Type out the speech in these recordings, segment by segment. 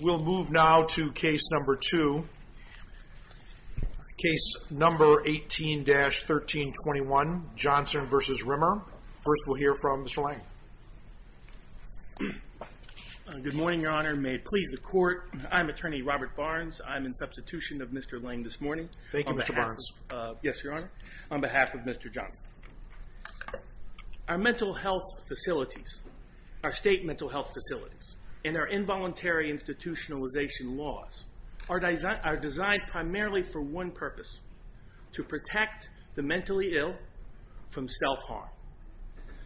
We'll move now to case number two. Case number 18-1321 Johnson v. Rimmer. First we'll hear from Mr. Lange. Good morning, your honor. May it please the court. I'm attorney Robert Barnes. I'm in substitution of Mr. Lange this morning. Thank you, Mr. Barnes. Yes, your honor. On behalf of Mr. Johnson. Our mental health facilities, our state mental health facilities, and our involuntary institutionalization laws are designed primarily for one purpose. To protect the mentally ill from self-harm.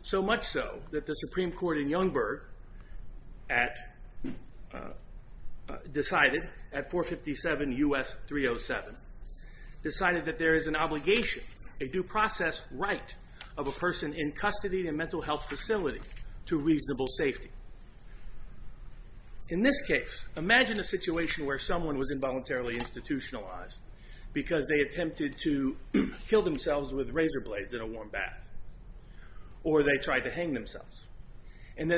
So much so that the Supreme Court in Youngberg decided at 457 U.S. 307 decided that there is an obligation, a due process right of a person in custody in a mental health facility to reasonable safety. In this case, imagine a situation where someone was involuntarily institutionalized because they attempted to kill themselves with razor blades in a warm bath. Or they tried to hang themselves. And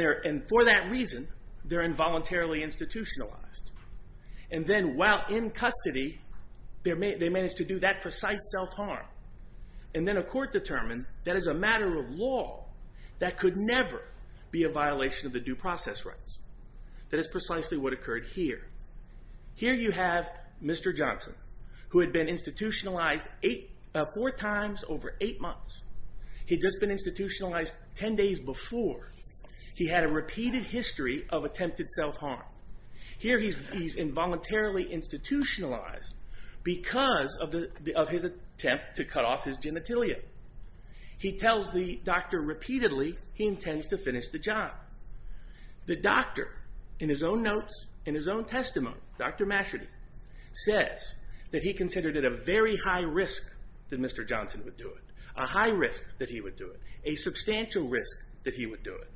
for that reason, they're involuntarily institutionalized. And then while in custody, they managed to do that precise self-harm. That could never be a violation of the due process rights. That is precisely what occurred here. Here you have Mr. Johnson. Who had been institutionalized four times over eight months. He'd just been institutionalized ten days before. He had a repeated history of attempted self-harm. Here he's involuntarily institutionalized because of his attempt to cut off his genitalia. He tells the doctor repeatedly he intends to finish the job. The doctor, in his own notes, in his own testimony, Dr. Masherty says that he considered it a very high risk that Mr. Johnson would do it. A high risk that he would do it. A substantial risk that he would do it.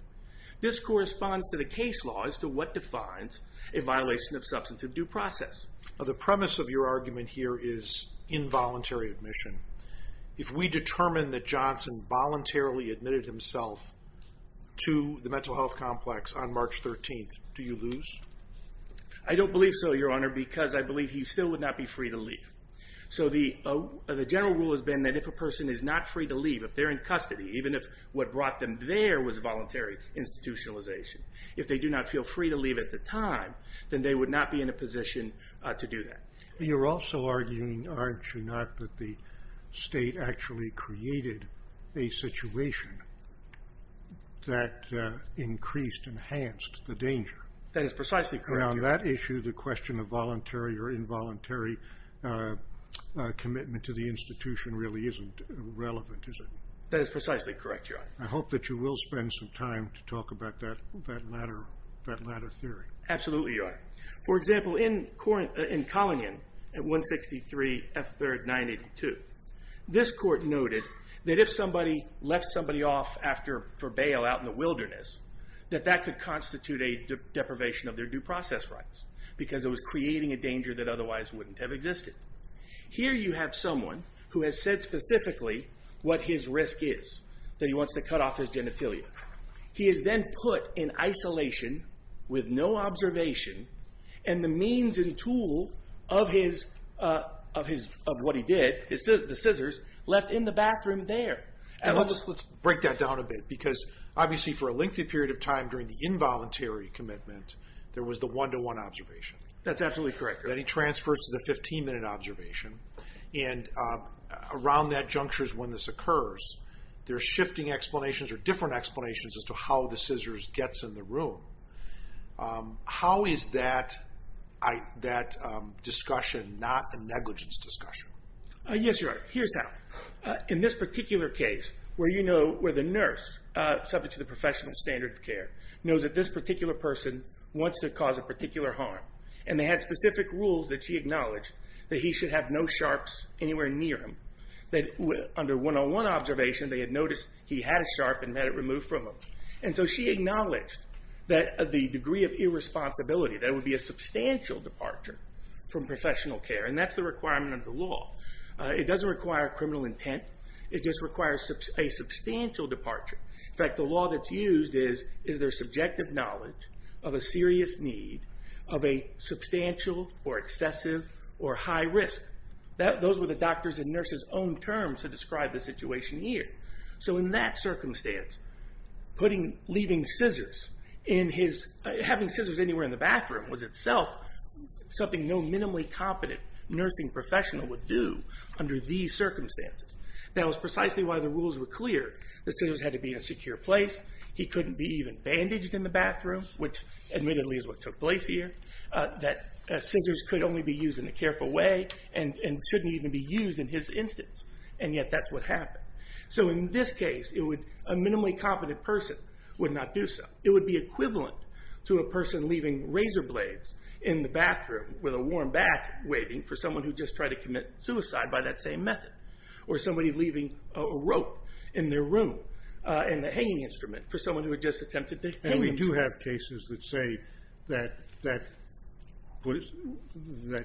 This corresponds to the case law as to what defines a violation of substantive due process. The premise of your argument here is involuntary admission. If we determine that Johnson voluntarily admitted himself to the mental health complex on March 13th, do you lose? I don't believe so, Your Honor, because I believe he still would not be free to leave. The general rule has been that if a person is not free to leave, if they're in custody, even if what brought them there was voluntary institutionalization, if they do not feel free to leave at the time, then they would not be in a position to do that. You're also arguing, aren't you not, that the state actually created a situation that increased, enhanced the danger. That is precisely correct, Your Honor. Around that issue, the question of voluntary or involuntary commitment to the institution really isn't relevant, is it? That is precisely correct, Your Honor. I hope that you will spend some time to talk about that latter theory. Absolutely, Your Honor. For example, in Collinion at 163 F3rd 982, this court noted that if somebody left somebody off for bail out in the wilderness, that that could constitute a deprivation of their due process rights because it was creating a danger that otherwise wouldn't have existed. Here you have someone who has said specifically what his risk is, that he wants to cut off his genitalia. He is then put in isolation with no observation, and the means and tool of what he did, the scissors, left in the bathroom there. Let's break that down a bit because obviously for a lengthy period of time during the involuntary commitment, there was the one-to-one observation. That's absolutely correct, Your Honor. Then he transfers to the 15-minute observation, and around that juncture is when this occurs. There are shifting explanations or different explanations as to how the scissors gets in the room. How is that discussion not a negligence discussion? Yes, Your Honor, here's how. In this particular case where the nurse, subject to the professional standard of care, knows that this particular person wants to cause a particular harm, and they had specific rules that she acknowledged that he should have no sharps anywhere near him, that under one-on-one observation, they had noticed he had a sharp and had it removed from him. She acknowledged that the degree of irresponsibility, there would be a substantial departure from professional care, and that's the requirement of the law. It doesn't require criminal intent. It just requires a substantial departure. In fact, the law that's used is, is there subjective knowledge of a serious need of a substantial or excessive or high risk? Those were the doctors' and nurses' own terms to describe the situation here. In that circumstance, leaving scissors in his... Having scissors anywhere in the bathroom was itself something no minimally competent nursing professional would do under these circumstances. That was precisely why the rules were clear. The scissors had to be in a secure place. He couldn't be even bandaged in the bathroom, which admittedly is what took place here. Scissors could only be used in a careful way, and shouldn't even be used in his instance, and yet that's what happened. So in this case, a minimally competent person would not do so. It would be equivalent to a person leaving razor blades in the bathroom with a warm bath waiting for someone who just tried to commit suicide by that same method, or somebody leaving a rope in their room, in the hanging instrument, for someone who had just attempted to hang himself. And we do have cases that say that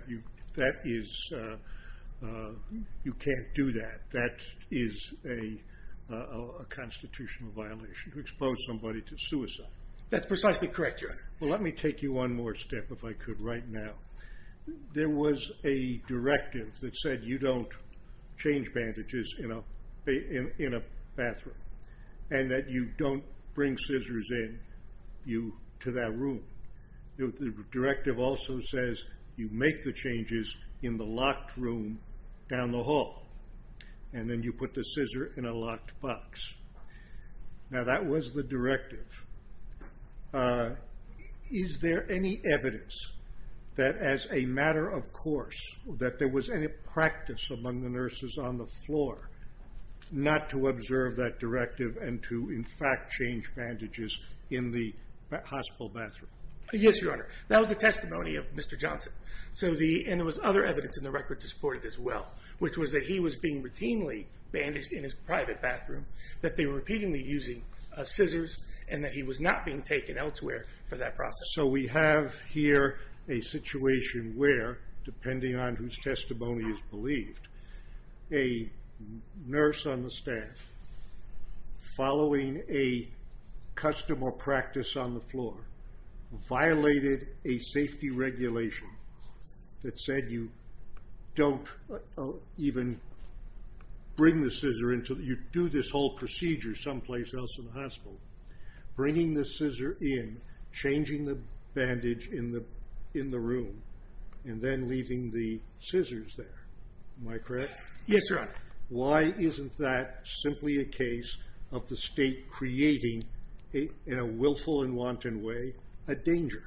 you can't do that. That is a constitutional violation, to expose somebody to suicide. That's precisely correct, Your Honor. Well, let me take you one more step, if I could, right now. There was a directive that said you don't change bandages in a bathroom, and that you don't bring scissors in to that room. The directive also says you make the changes in the locked room down the hall, and then you put the scissor in a locked box. Now that was the directive. Is there any evidence that as a matter of course, that there was any practice among the nurses on the floor not to observe that directive, and to in fact change bandages in the hospital bathroom? Yes, Your Honor. That was the testimony of Mr. Johnson. And there was other evidence in the record to support it as well, which was that he was being routinely bandaged in his private bathroom, that they were repeatedly using scissors, and that he was not being taken elsewhere for that process. So we have here a situation where, depending on whose testimony is believed, a nurse on the staff, following a custom or practice on the floor, violated a safety regulation that said you don't even bring the scissor in until you do this whole procedure someplace else in the hospital. Bringing the scissor in, changing the bandage in the room, and then leaving the scissors there. Am I correct? Yes, Your Honor. Why isn't that simply a case of the state creating, in a willful and wanton way, a danger?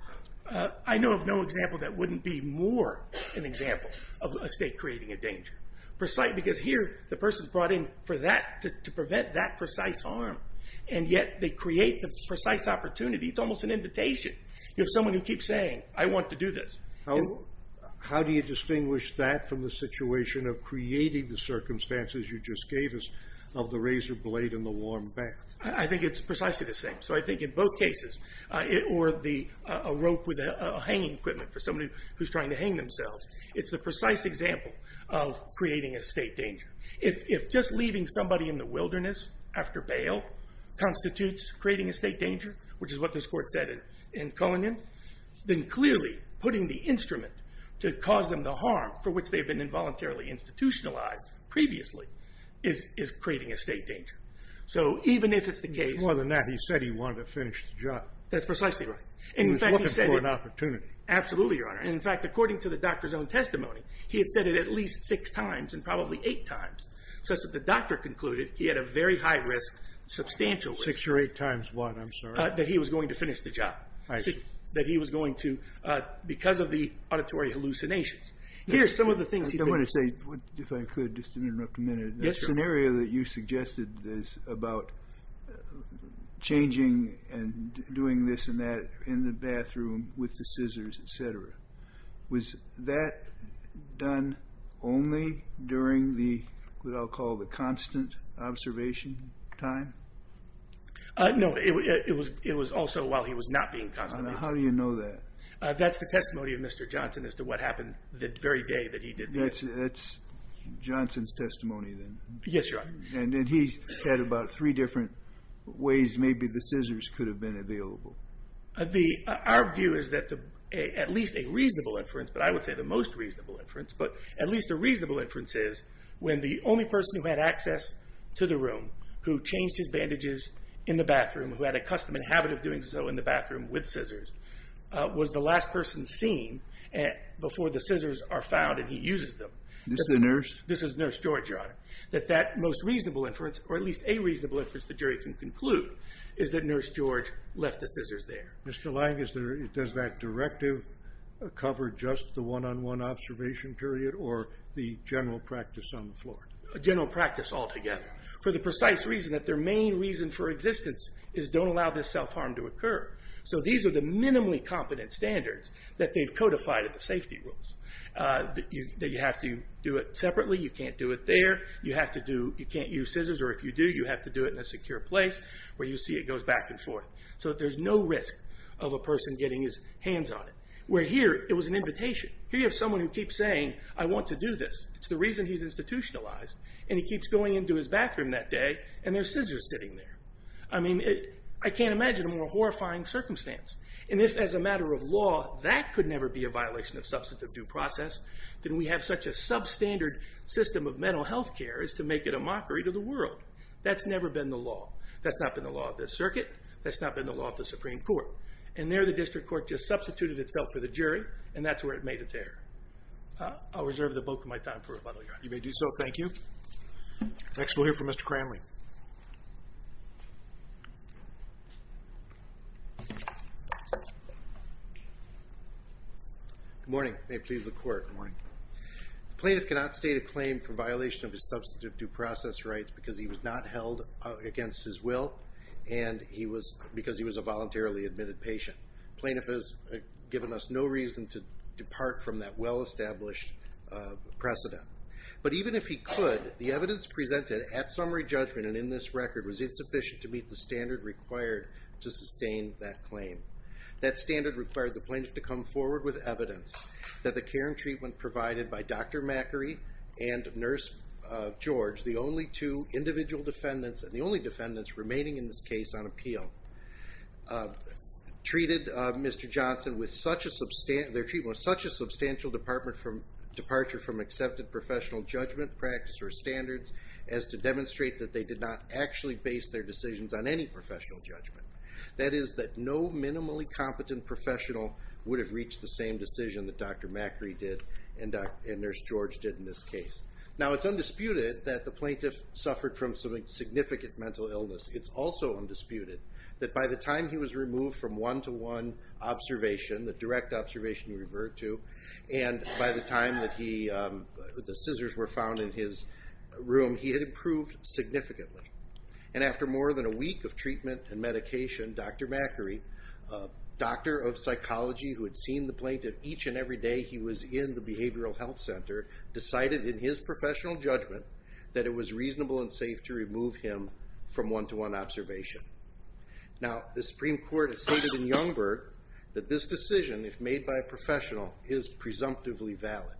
I know of no example that wouldn't be more an example of a state creating a danger. Because here, the person's brought in for that, to prevent that precise harm, and yet they create the precise opportunity. It's almost an invitation. You have someone who keeps saying, I want to do this. How do you distinguish that from the situation of creating the circumstances you just gave us of the razor blade and the warm bath? I think it's precisely the same. So I think in both cases, or a rope with a hanging equipment for somebody who's trying to hang themselves, it's the precise example of creating a state danger. If just leaving somebody in the wilderness after bail constitutes creating a state danger, which is what this Court said in Cohen, then clearly, putting the instrument to cause them the harm for which they've been involuntarily institutionalized previously, is creating a state danger. So even if it's the case... It's more than that. He said he wanted to finish the job. That's precisely right. He was looking for an opportunity. Absolutely, Your Honor. In fact, according to the doctor's own testimony, he had said it at least six times, and probably eight times, such that the doctor concluded he had a very high risk, substantial risk... Six or eight times what? I'm sorry. That he was going to finish the job. I see. That he was going to, because of the auditory hallucinations. Here's some of the things he did. I want to say, if I could, just to interrupt a minute. Yes, Your Honor. The scenario that you suggested is about changing and doing this and that in the bathroom with the scissors, etc. Was that done only during the, what I'll call the constant observation time? No, it was also while he was not being constipated. How do you know that? That's the testimony of Mr. Johnson as to what happened the very day that he did this. That's Johnson's testimony then? Yes, Your Honor. And he said about three different ways maybe the scissors could have been available. Our view is that at least a reasonable inference, but I would say the most reasonable inference, but at least a reasonable inference is when the only person who had access to the room who changed his bandages in the bathroom, who had a custom and habit of doing so in the bathroom with scissors, was the last person seen before the scissors are found and he uses them. This is the nurse? This is Nurse George, Your Honor. That that most reasonable inference, or at least a reasonable inference, the jury can conclude, is that Nurse George left the scissors there. Mr. Lang, does that directive cover just the one-on-one observation period or the general practice on the floor? General practice altogether. For the precise reason that their main reason for existence is don't allow this self-harm to occur. So these are the minimally competent standards that they've codified at the safety rules. That you have to do it separately. You can't do it there. You have to do, you can't use scissors, or if you do, you have to do it in a secure place where you see it goes back and forth so that there's no risk of a person getting his hands on it. Where here, it was an invitation. Here you have someone who keeps saying, I want to do this. It's the reason he's institutionalized and he keeps going into his bathroom that day and there's scissors sitting there. I mean, I can't imagine a more horrifying circumstance. And if, as a matter of law, that could never be a violation of substantive due process, then we have such a substandard system of mental health care as to make it a mockery to the world. That's never been the law. That's not been the law of this circuit. That's not been the law of the Supreme Court. And there the district court and that's where it made its error. I'll reserve the bulk of my time for rebuttal, Your Honor. You may do so. Thank you. Next we'll hear from Mr. Cranley. Good morning. May it please the Court. Good morning. The plaintiff cannot state a claim for violation of his substantive due process rights because he was not held against his will and because he was a voluntarily admitted patient. The plaintiff has given us no reason to depart from that well-established precedent. But even if he could, the evidence presented at summary judgment and in this record was insufficient to meet the standard required to sustain that claim. That standard required the plaintiff to come forward with evidence that the care and treatment provided by Dr. Macri and Nurse George, the only two individual defendants and the only defendants remaining in this case on appeal, treated Mr. Johnson with such a substantial, their treatment was such a substantial departure from accepted professional judgment practice or standards as to demonstrate that they did not actually base their decisions on any professional judgment. That is that no minimally competent professional would have reached the same decision that Dr. Macri did and Nurse George did in this case. Now it's undisputed that the plaintiff suffered from some significant mental illness. It's also undisputed that by the time he was removed from one-to-one observation, the direct observation you revert to, and by the time that he, the scissors were found in his room, he had improved significantly. And after more than a week of treatment and medication, Dr. Macri, a doctor of psychology who had seen the plaintiff each and every day he was in the behavioral health center, decided in his professional judgment that it was reasonable and safe to remove him from one-to-one observation. Now the Supreme Court has stated in Youngberg that this decision, if made by a professional, is presumptively valid.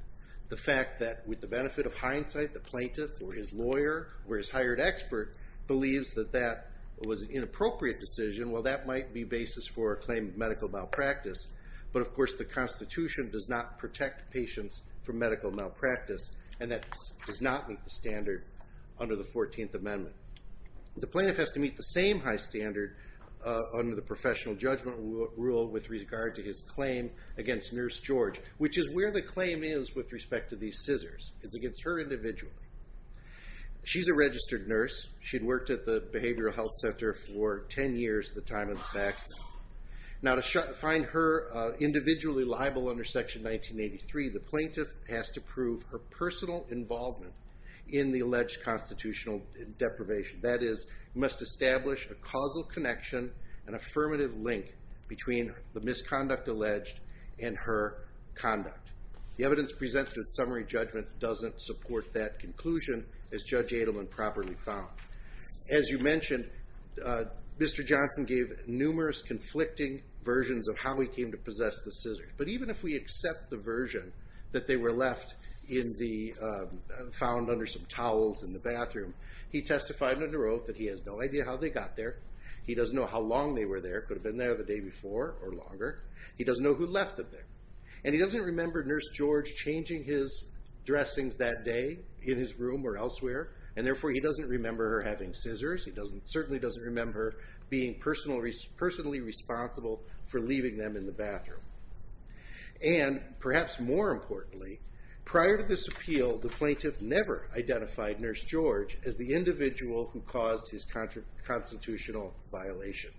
The fact that, with the benefit of hindsight, the plaintiff or his lawyer or his hired expert believes that that was an inappropriate decision, well that might be basis for a claim of medical malpractice. But of course the Constitution does not protect patients from medical malpractice and that does not meet the standard under the 14th Amendment. The plaintiff has to meet the same high standard under the professional judgment rule with regard to his claim against Nurse George, which is where the claim is with respect to these scissors. It's against her individually. She's a registered nurse. She'd worked at the behavioral health center for 10 years at the time of the Saxon. Now to find her individually liable under Section 1983, the plaintiff has to prove her personal involvement in the alleged constitutional deprivation. That is, must establish a causal connection, an affirmative link, between the misconduct alleged and her conduct. The evidence presented in summary judgment doesn't support that conclusion as Judge Adelman properly found. As you mentioned, Mr. Johnson gave numerous conflicting versions of how he came to possess the scissors. But even if we accept the version that they were left in the, found under some towels in the bathroom, he testified under oath that he has no idea how they got there. He doesn't know how long they were there, could have been there the day before or longer. He doesn't know who left them there. And he doesn't remember Nurse George changing his dressings that day in his room or elsewhere, and therefore he doesn't remember her having scissors. He certainly doesn't remember being personally responsible for leaving them in the bathroom. And perhaps more importantly, prior to this appeal, the plaintiff never identified Nurse George as the individual who caused his constitutional violation.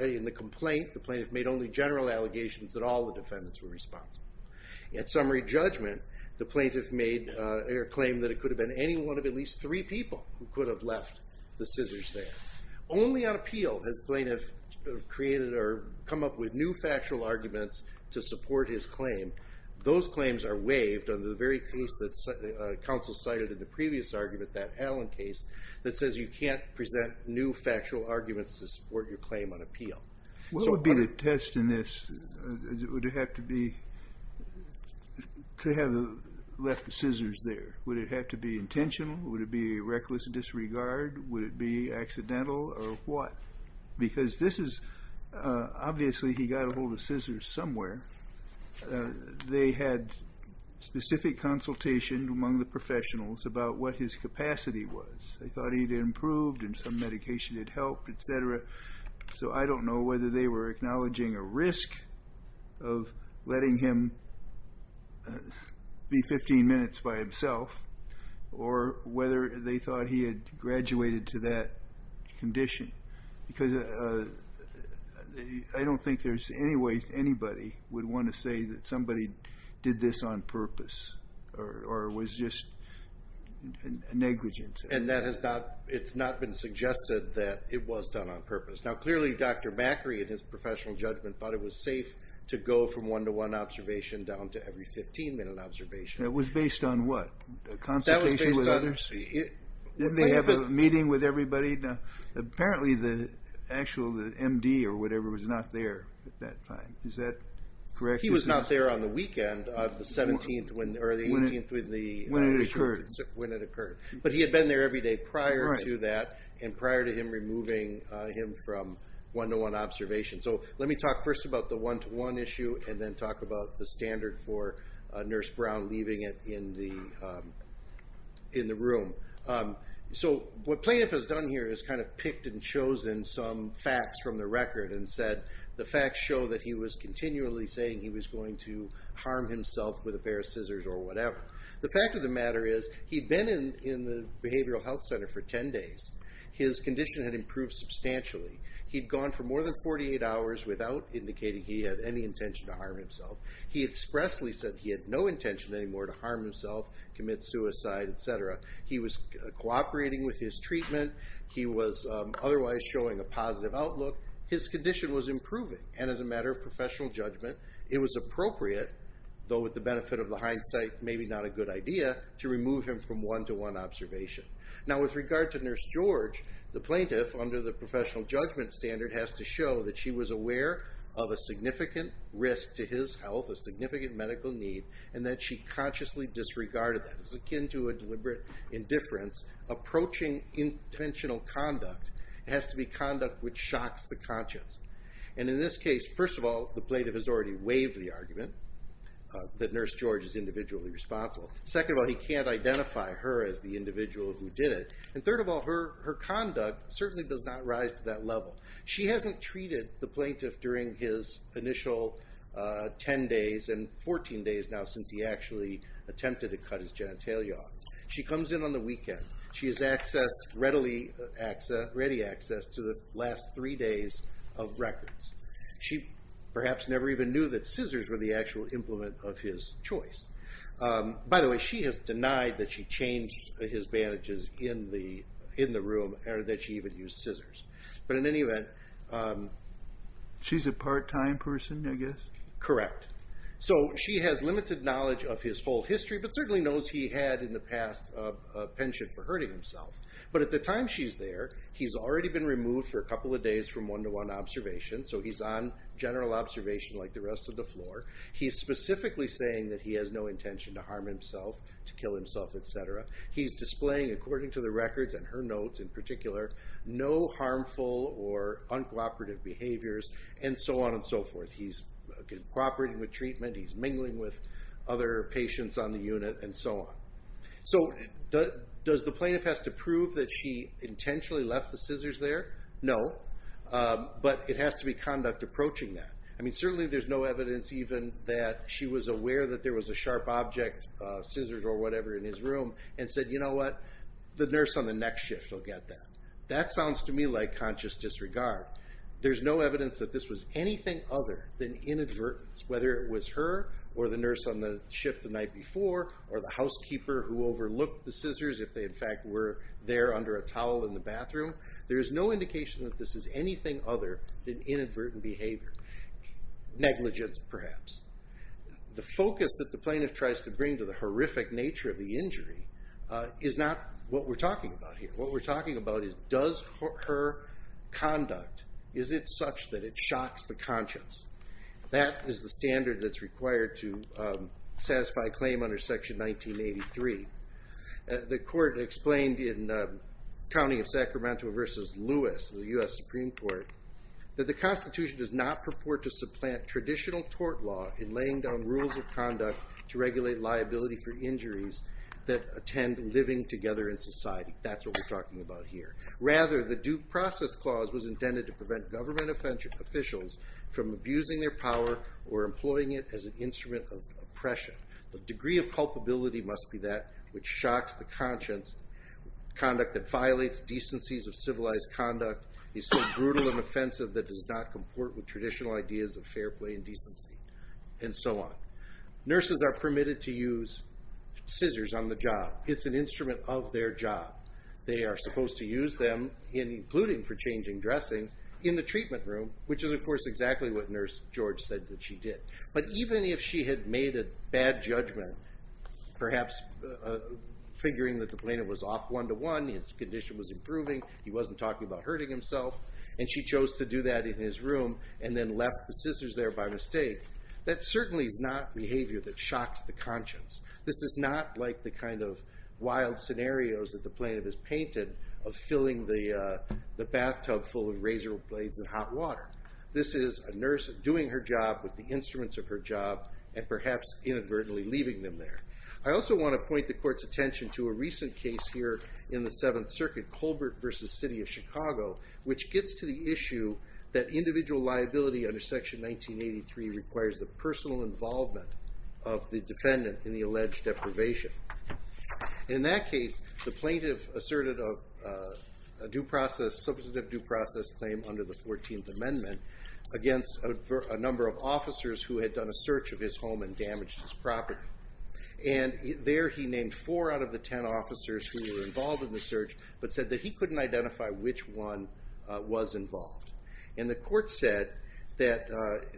In the complaint, the plaintiff made only general allegations that all the defendants were responsible. At summary judgment, the plaintiff made a claim that it could have been any one of at least three people who could have left the scissors there. Only on appeal has the plaintiff created or come up with new factual arguments to support his claim. Those claims are waived under the very case that counsel cited in the previous argument, that Allen case, that says you can't present new factual arguments to support your claim on appeal. What would be the test in this? Would it have to be to have left the scissors there? Would it have to be intentional? Would it be a reckless disregard? Would it be accidental or what? Because this is, obviously he got a hold of scissors somewhere. They had specific consultation among the professionals about what his capacity was. They thought he'd improved and some medication had helped, etc. So I don't know whether they were acknowledging a risk of letting him be 15 minutes by himself or whether they thought he had graduated to that condition. Because I don't think there's any way anybody would want to say that somebody did this on purpose or was just negligent. And that has not, it's not been suggested that it was done on purpose. Now clearly Dr. Macri in his professional judgment thought it was safe to go from one-to-one observation down to every 15-minute observation. It was based on what? Consultation with others? Didn't they have a meeting with everybody? Apparently the actual MD or whatever was not there at that time. Is that correct? He was not there on the weekend of the 17th or the 18th when it occurred. But he had been there every day prior to that and prior to him removing him from one-to-one observation. So let me talk first about the one-to-one issue and then talk about the standard for Nurse Brown leaving it in the room. So what plaintiff has done here is kind of picked and chosen some facts from the record and said the facts show that he was continually saying he was going to harm himself with a pair of scissors or whatever. The fact of the matter is he'd been in the behavioral health center for 10 days. His condition had improved substantially. He'd gone for more than 48 hours without indicating he had any intention to harm himself. He expressly said he had no intention anymore to harm himself, commit suicide, etc. He was cooperating with his treatment. He was otherwise showing a positive outlook. His condition was improving and as a matter of professional judgment it was appropriate, though with the benefit of the hindsight maybe not a good idea, to remove him from one-to-one observation. Now with regard to Nurse George, the plaintiff, under the professional judgment standard, has to show that she was aware of a significant risk to his health, a significant medical need, and that she consciously disregarded that. It's akin to a deliberate indifference approaching intentional conduct. It has to be conduct which shocks the conscience. And in this case, first of all, the plaintiff has already waived the argument that Nurse George is individually responsible. Second of all, he can't identify her as the individual who did it. And third of all, her conduct certainly does not rise to that level. She hasn't treated the plaintiff during his initial 10 days and 14 days now since he actually attempted to cut his genitalia off. She comes in on the weekend. She has access, readily access, to the last three days of records. She perhaps never even knew that scissors were the actual implement of his choice. By the way, she has denied that she changed his bandages in the room or that she even used scissors. But in any event, um... She's a part-time person, I guess? Correct. So, she has limited knowledge of his full history but certainly knows he had in the past a penchant for hurting himself. But at the time she's there, he's already been removed for a couple of days from one-to-one observation. So he's on general observation like the rest of the floor. He's specifically saying that he has no intention to harm himself, to kill himself, etc. He's displaying, according to the records and her notes in particular, no harmful or uncooperative and so on and so forth. He's cooperating with treatment, he's mingling with other patients on the unit and so on. So, does the plaintiff have to prove that she intentionally left the scissors there? No. But it has to be conduct approaching that. I mean, certainly there's no evidence even that she was aware that there was a sharp object, scissors or whatever in his room and said, you know what, the nurse on the next shift will get that. That sounds to me like conscious disregard. There's no evidence that this was anything other than inadvertence, whether it was her or the nurse on the shift the night before or the housekeeper who overlooked the scissors if they in fact were there under a towel in the bathroom. There is no indication that this is anything other than inadvertent behavior, negligence perhaps. The focus that the plaintiff tries to bring to the horrific nature of the injury is not what we're talking about here. What we're talking about is does her conduct, is it such that it shocks the conscience? That is the standard that's required to satisfy a claim under section 1983. The court explained in County of Sacramento versus Lewis, the U.S. Supreme Court, that the Constitution does not purport to supplant traditional court law in laying down rules of conduct to regulate liability for injuries that attend living together in society. That's what we're talking about here. Rather, the due process clause was intended to prevent government officials from abusing their power or employing it as an instrument of oppression. The degree of culpability must be that which shocks the conscience. Conduct that violates decencies of civilized conduct is so brutal and offensive that does not comport with traditional ideas of fair play and decency, and so on. Nurses are permitted to use scissors on the job. It's an instrument of their job. They are supposed to use them, including for changing dressings, in the treatment room, which is, of course, exactly what Nurse George said that she did. But even if she had made a bad judgment, perhaps figuring that the plaintiff was off one to one, his condition was improving, he wasn't talking about hurting himself, and she chose to do that in his room and then left the scissors there by mistake. That certainly is not behavior that shocks the conscience. This is not like the kind of wild scenarios that the plaintiff has painted of filling the bathtub full of razor blades and hot water. This is a nurse doing her job with the instruments of her job and perhaps inadvertently leaving them there. I also want to point the court's attention to a recent case here in the Seventh Circuit, Colbert v. City of Chicago, which gets to the issue that individual life and liability under Section 1983 requires the personal involvement of the defendant in the alleged deprivation. In that case, the plaintiff asserted a substantive due process claim under the 14th Amendment against a number of officers who had done a search of his home and damaged his property. There he named four out of the ten officers who were involved in the search but said that he couldn't identify which one was involved. And the court said that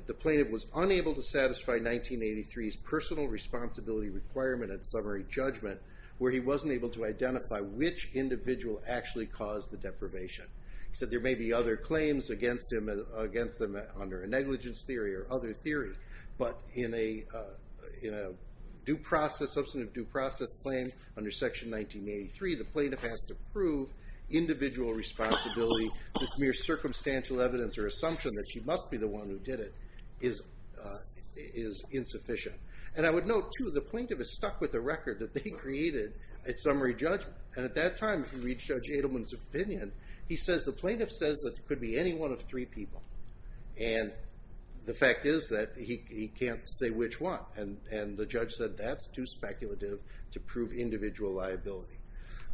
the plaintiff was unable to satisfy 1983's personal responsibility requirement and summary judgment where he wasn't able to identify which individual actually caused the deprivation. He said there may be other claims against him under a negligence theory or other theory, but in a substantive due process claim under Section 1983, the plaintiff has to prove individual responsibility, this mere circumstantial evidence or assumption that she must be the one who did it is insufficient. And I would note, too, the plaintiff is stuck with the record that they created at summary judgment. And at that time, if you read Judge Adelman's opinion, he says the plaintiff says that it could be any one of three people. And the fact is that he can't say which one. And the judge said that's too speculative to prove individual liability.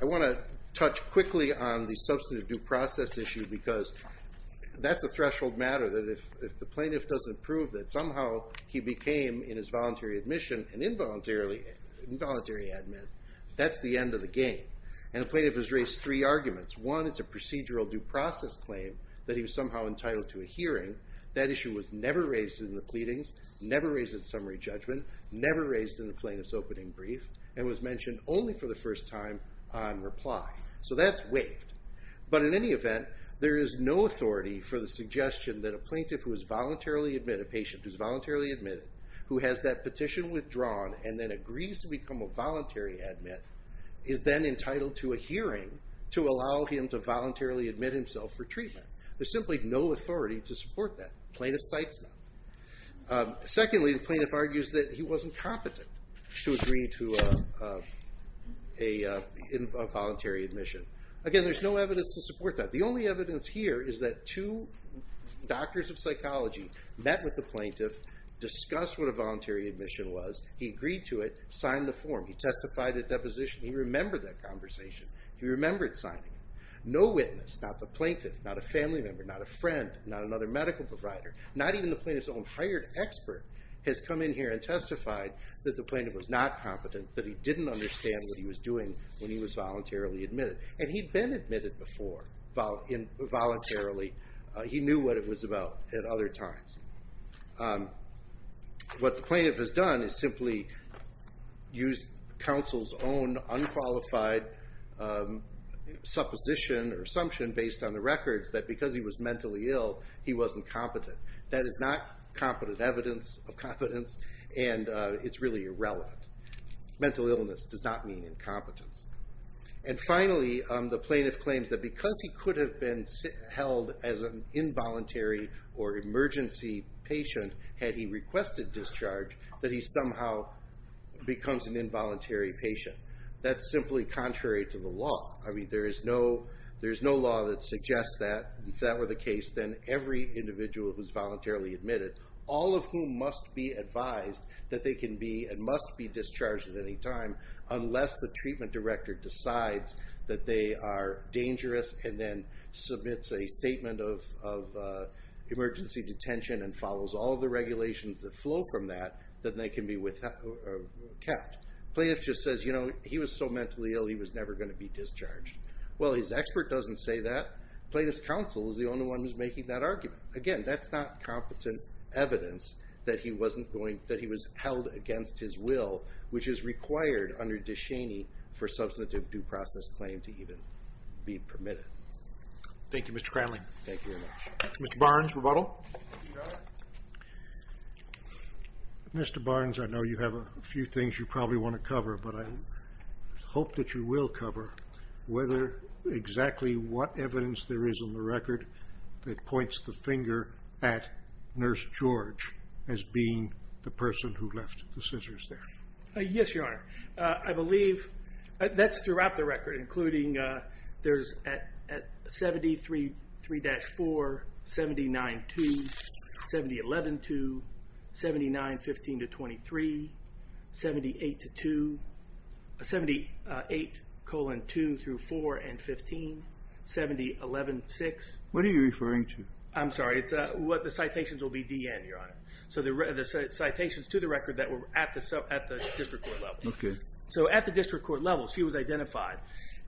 I want to touch quickly on the substantive due process issue because that's a threshold matter that if the plaintiff doesn't prove that somehow he became, in his voluntary admission, an involuntary admin, that's the end of the game. And the plaintiff has raised three arguments. One is a procedural due process claim that he was somehow entitled to a hearing. That issue was never raised in the pleadings, never raised at summary judgment, never raised in the plaintiff's opening brief, and was mentioned only for the first time on reply. So that's waived. But in any event, there is no authority for the suggestion that a plaintiff who has voluntarily admitted a patient, who's voluntarily admitted, who has that petition withdrawn, and then agrees to become a voluntary admit, is then entitled to a hearing to allow him to voluntarily admit himself for treatment. There's simply no authority to support that. The plaintiff cites him. Secondly, the plaintiff argues that he wasn't competent to agree to a voluntary admission. Again, there's no evidence to support that. The only evidence here is that two doctors of psychology met with the plaintiff, discussed what a voluntary admission was, he agreed to it, signed the form, he testified at deposition, he remembered that conversation, he remembered signing it. No witness, not the plaintiff, not a family member, not a friend, not another medical provider, not even the plaintiff's own hired expert has come in here and testified that the plaintiff was not competent, that he didn't understand what he was doing when he was voluntarily admitted. And he'd been admitted before, voluntarily. He knew what it was about at other times. What the plaintiff has done is simply use counsel's own unqualified supposition or assumption based on the records that because he was mentally ill, he wasn't competent. That is not competent evidence of competence, and it's really irrelevant. Mental illness does not mean incompetence. And finally, the plaintiff claims that because he could have been held as an involuntary or emergency patient had he requested discharge, that he somehow becomes an involuntary patient. That's simply contrary to the law. I mean, there is no law that suggests that if that were the case, then every individual who's voluntarily admitted, all of whom must be advised that they can be and must be discharged at any time unless the treatment director decides that they are dangerous and then submits a statement of emergency detention and follows all the regulations that flow from that, that they can be kept. Plaintiff just says, you know, he was so mentally ill he was never going to be discharged. Well, his expert doesn't say that. Plaintiff's counsel is the only one who's making that argument. Again, that's not competent evidence that he was held against his will, which is required under Descheny for substantive due process claim to even be permitted. Thank you, Mr. Cranley. Thank you very much. Mr. Barnes, rebuttal. Mr. Barnes, I know you have a few things you probably want to cover, but I hope that you will cover whether exactly what evidence there is on the record that points the finger at Nurse George as being the person who left the scissors there. Yes, Your Honor. I believe that's throughout the record, including there's at 73-4, 79-2, 70-11-2, 79-15-23, 78-2, 78-2-4-15, 70-11-6. What are you referring to? I'm sorry. The citations will be DN, Your Honor. So the citations to the record that were at the district court level. Okay. So at the district court level, she was identified,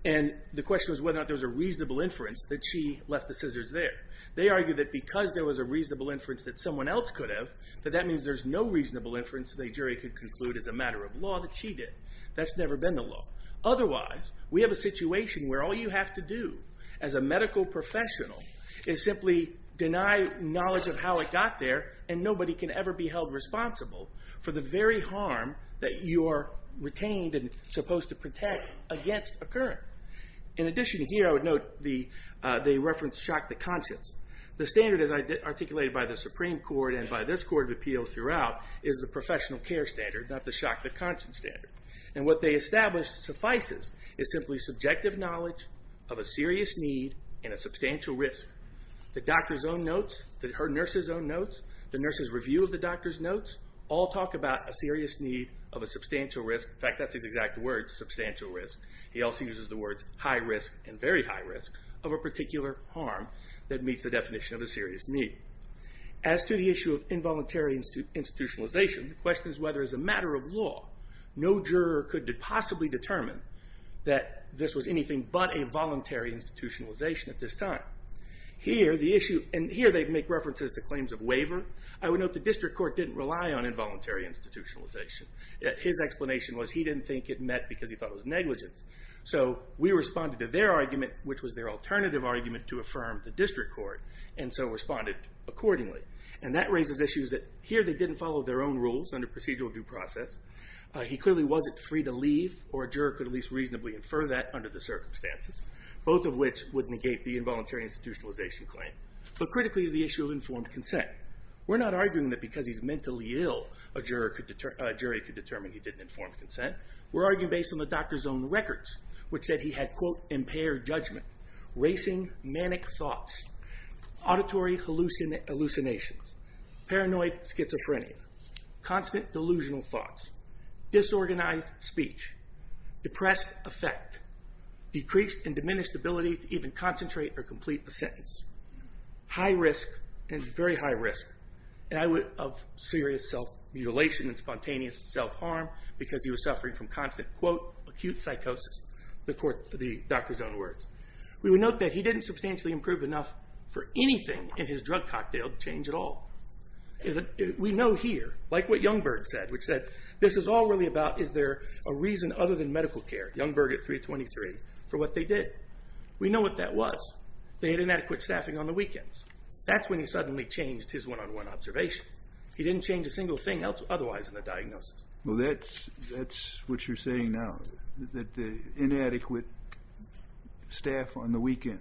and the question was whether or not there was a reasonable inference that she left the scissors there. They argue that because there was a reasonable inference that someone else could have, that that means there's no reasonable inference the jury could conclude as a matter of law that she did. That's never been the law. Otherwise, we have a situation where all you have to do as a medical professional is simply deny knowledge of how it got there, and nobody can ever be held responsible for the very harm that you are retained and supposed to protect against occurring. In addition here, I would note the reference shock the conscience. The standard as articulated by the Supreme Court and by this Court of Appeals throughout is the professional care standard, not the shock the conscience standard. And what they established suffices is simply subjective knowledge of a serious need and a substantial risk. The doctor's own notes, her nurse's own notes, the nurse's review of the doctor's notes all talk about a serious need of a substantial risk. In fact, that's his exact words, substantial risk. He also uses the words high risk and very high risk of a particular harm that meets the definition of a serious need. As to the issue of involuntary institutionalization, the question is whether as a matter of law no juror could possibly determine that this was anything but a voluntary institutionalization at this time. Here, the issue, and here they make references to claims of waiver. I would note the district court didn't rely on involuntary institutionalization. His explanation was he didn't think it met because he thought it was negligent. So we responded to their argument which was their alternative argument to affirm the district court and so responded accordingly. And that raises issues that here they didn't follow their own rules under procedural due process. He clearly wasn't free to leave or a juror could at least reasonably infer that under the circumstances. Both of which would negate the involuntary institutionalization claim. But critically is the issue of informed consent. We're not arguing that because he's mentally ill a jury could determine he didn't inform consent. We're arguing based on the doctor's own records which said he had quote, impaired judgment, racing manic thoughts, auditory hallucinations, paranoid schizophrenia, constant delusional thoughts, disorganized speech, depressed affect, decreased and diminished ability to even concentrate or complete a sentence, high risk and very high risk of serious self-mutilation and spontaneous self-harm because he was suffering from constant quote, acute psychosis. The doctor's own words. We would note that he didn't substantially improve enough for anything in his drug cocktail to change at all. We know here, like what Youngberg said, which said, this is all really about is there a reason other than medical care, Youngberg at 323, for what they did. We know what that was. They had inadequate staffing on the weekends. That's when he suddenly changed his one-on-one observation. He didn't change a single thing otherwise in the diagnosis. Well, that's what you're saying now, that the inadequate staff on the weekends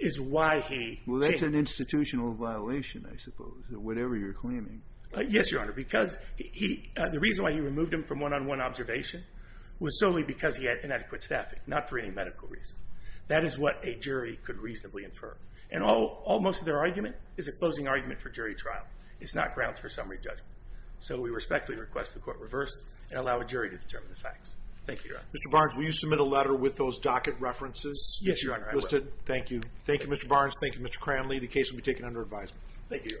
is why he changed. Well, that's an institutional violation, I suppose, or whatever you're claiming. Yes, Your Honor, because the reason why he removed him from one-on-one observation was solely because he had inadequate staffing, not for any medical reason. That is what a jury could reasonably infer. And almost their argument is a closing argument for jury trial. It's not grounds for summary judgment. So we respectfully request the Court reverse and allow a jury to determine the facts. Thank you, Your Honor. Mr. Barnes, will you submit a letter with those docket references? Yes, Your Honor, I will. Thank you. Thank you, Mr. Barnes. Thank you, Mr. Cranley. The case will be taken under advisement. Thank you, Your Honor.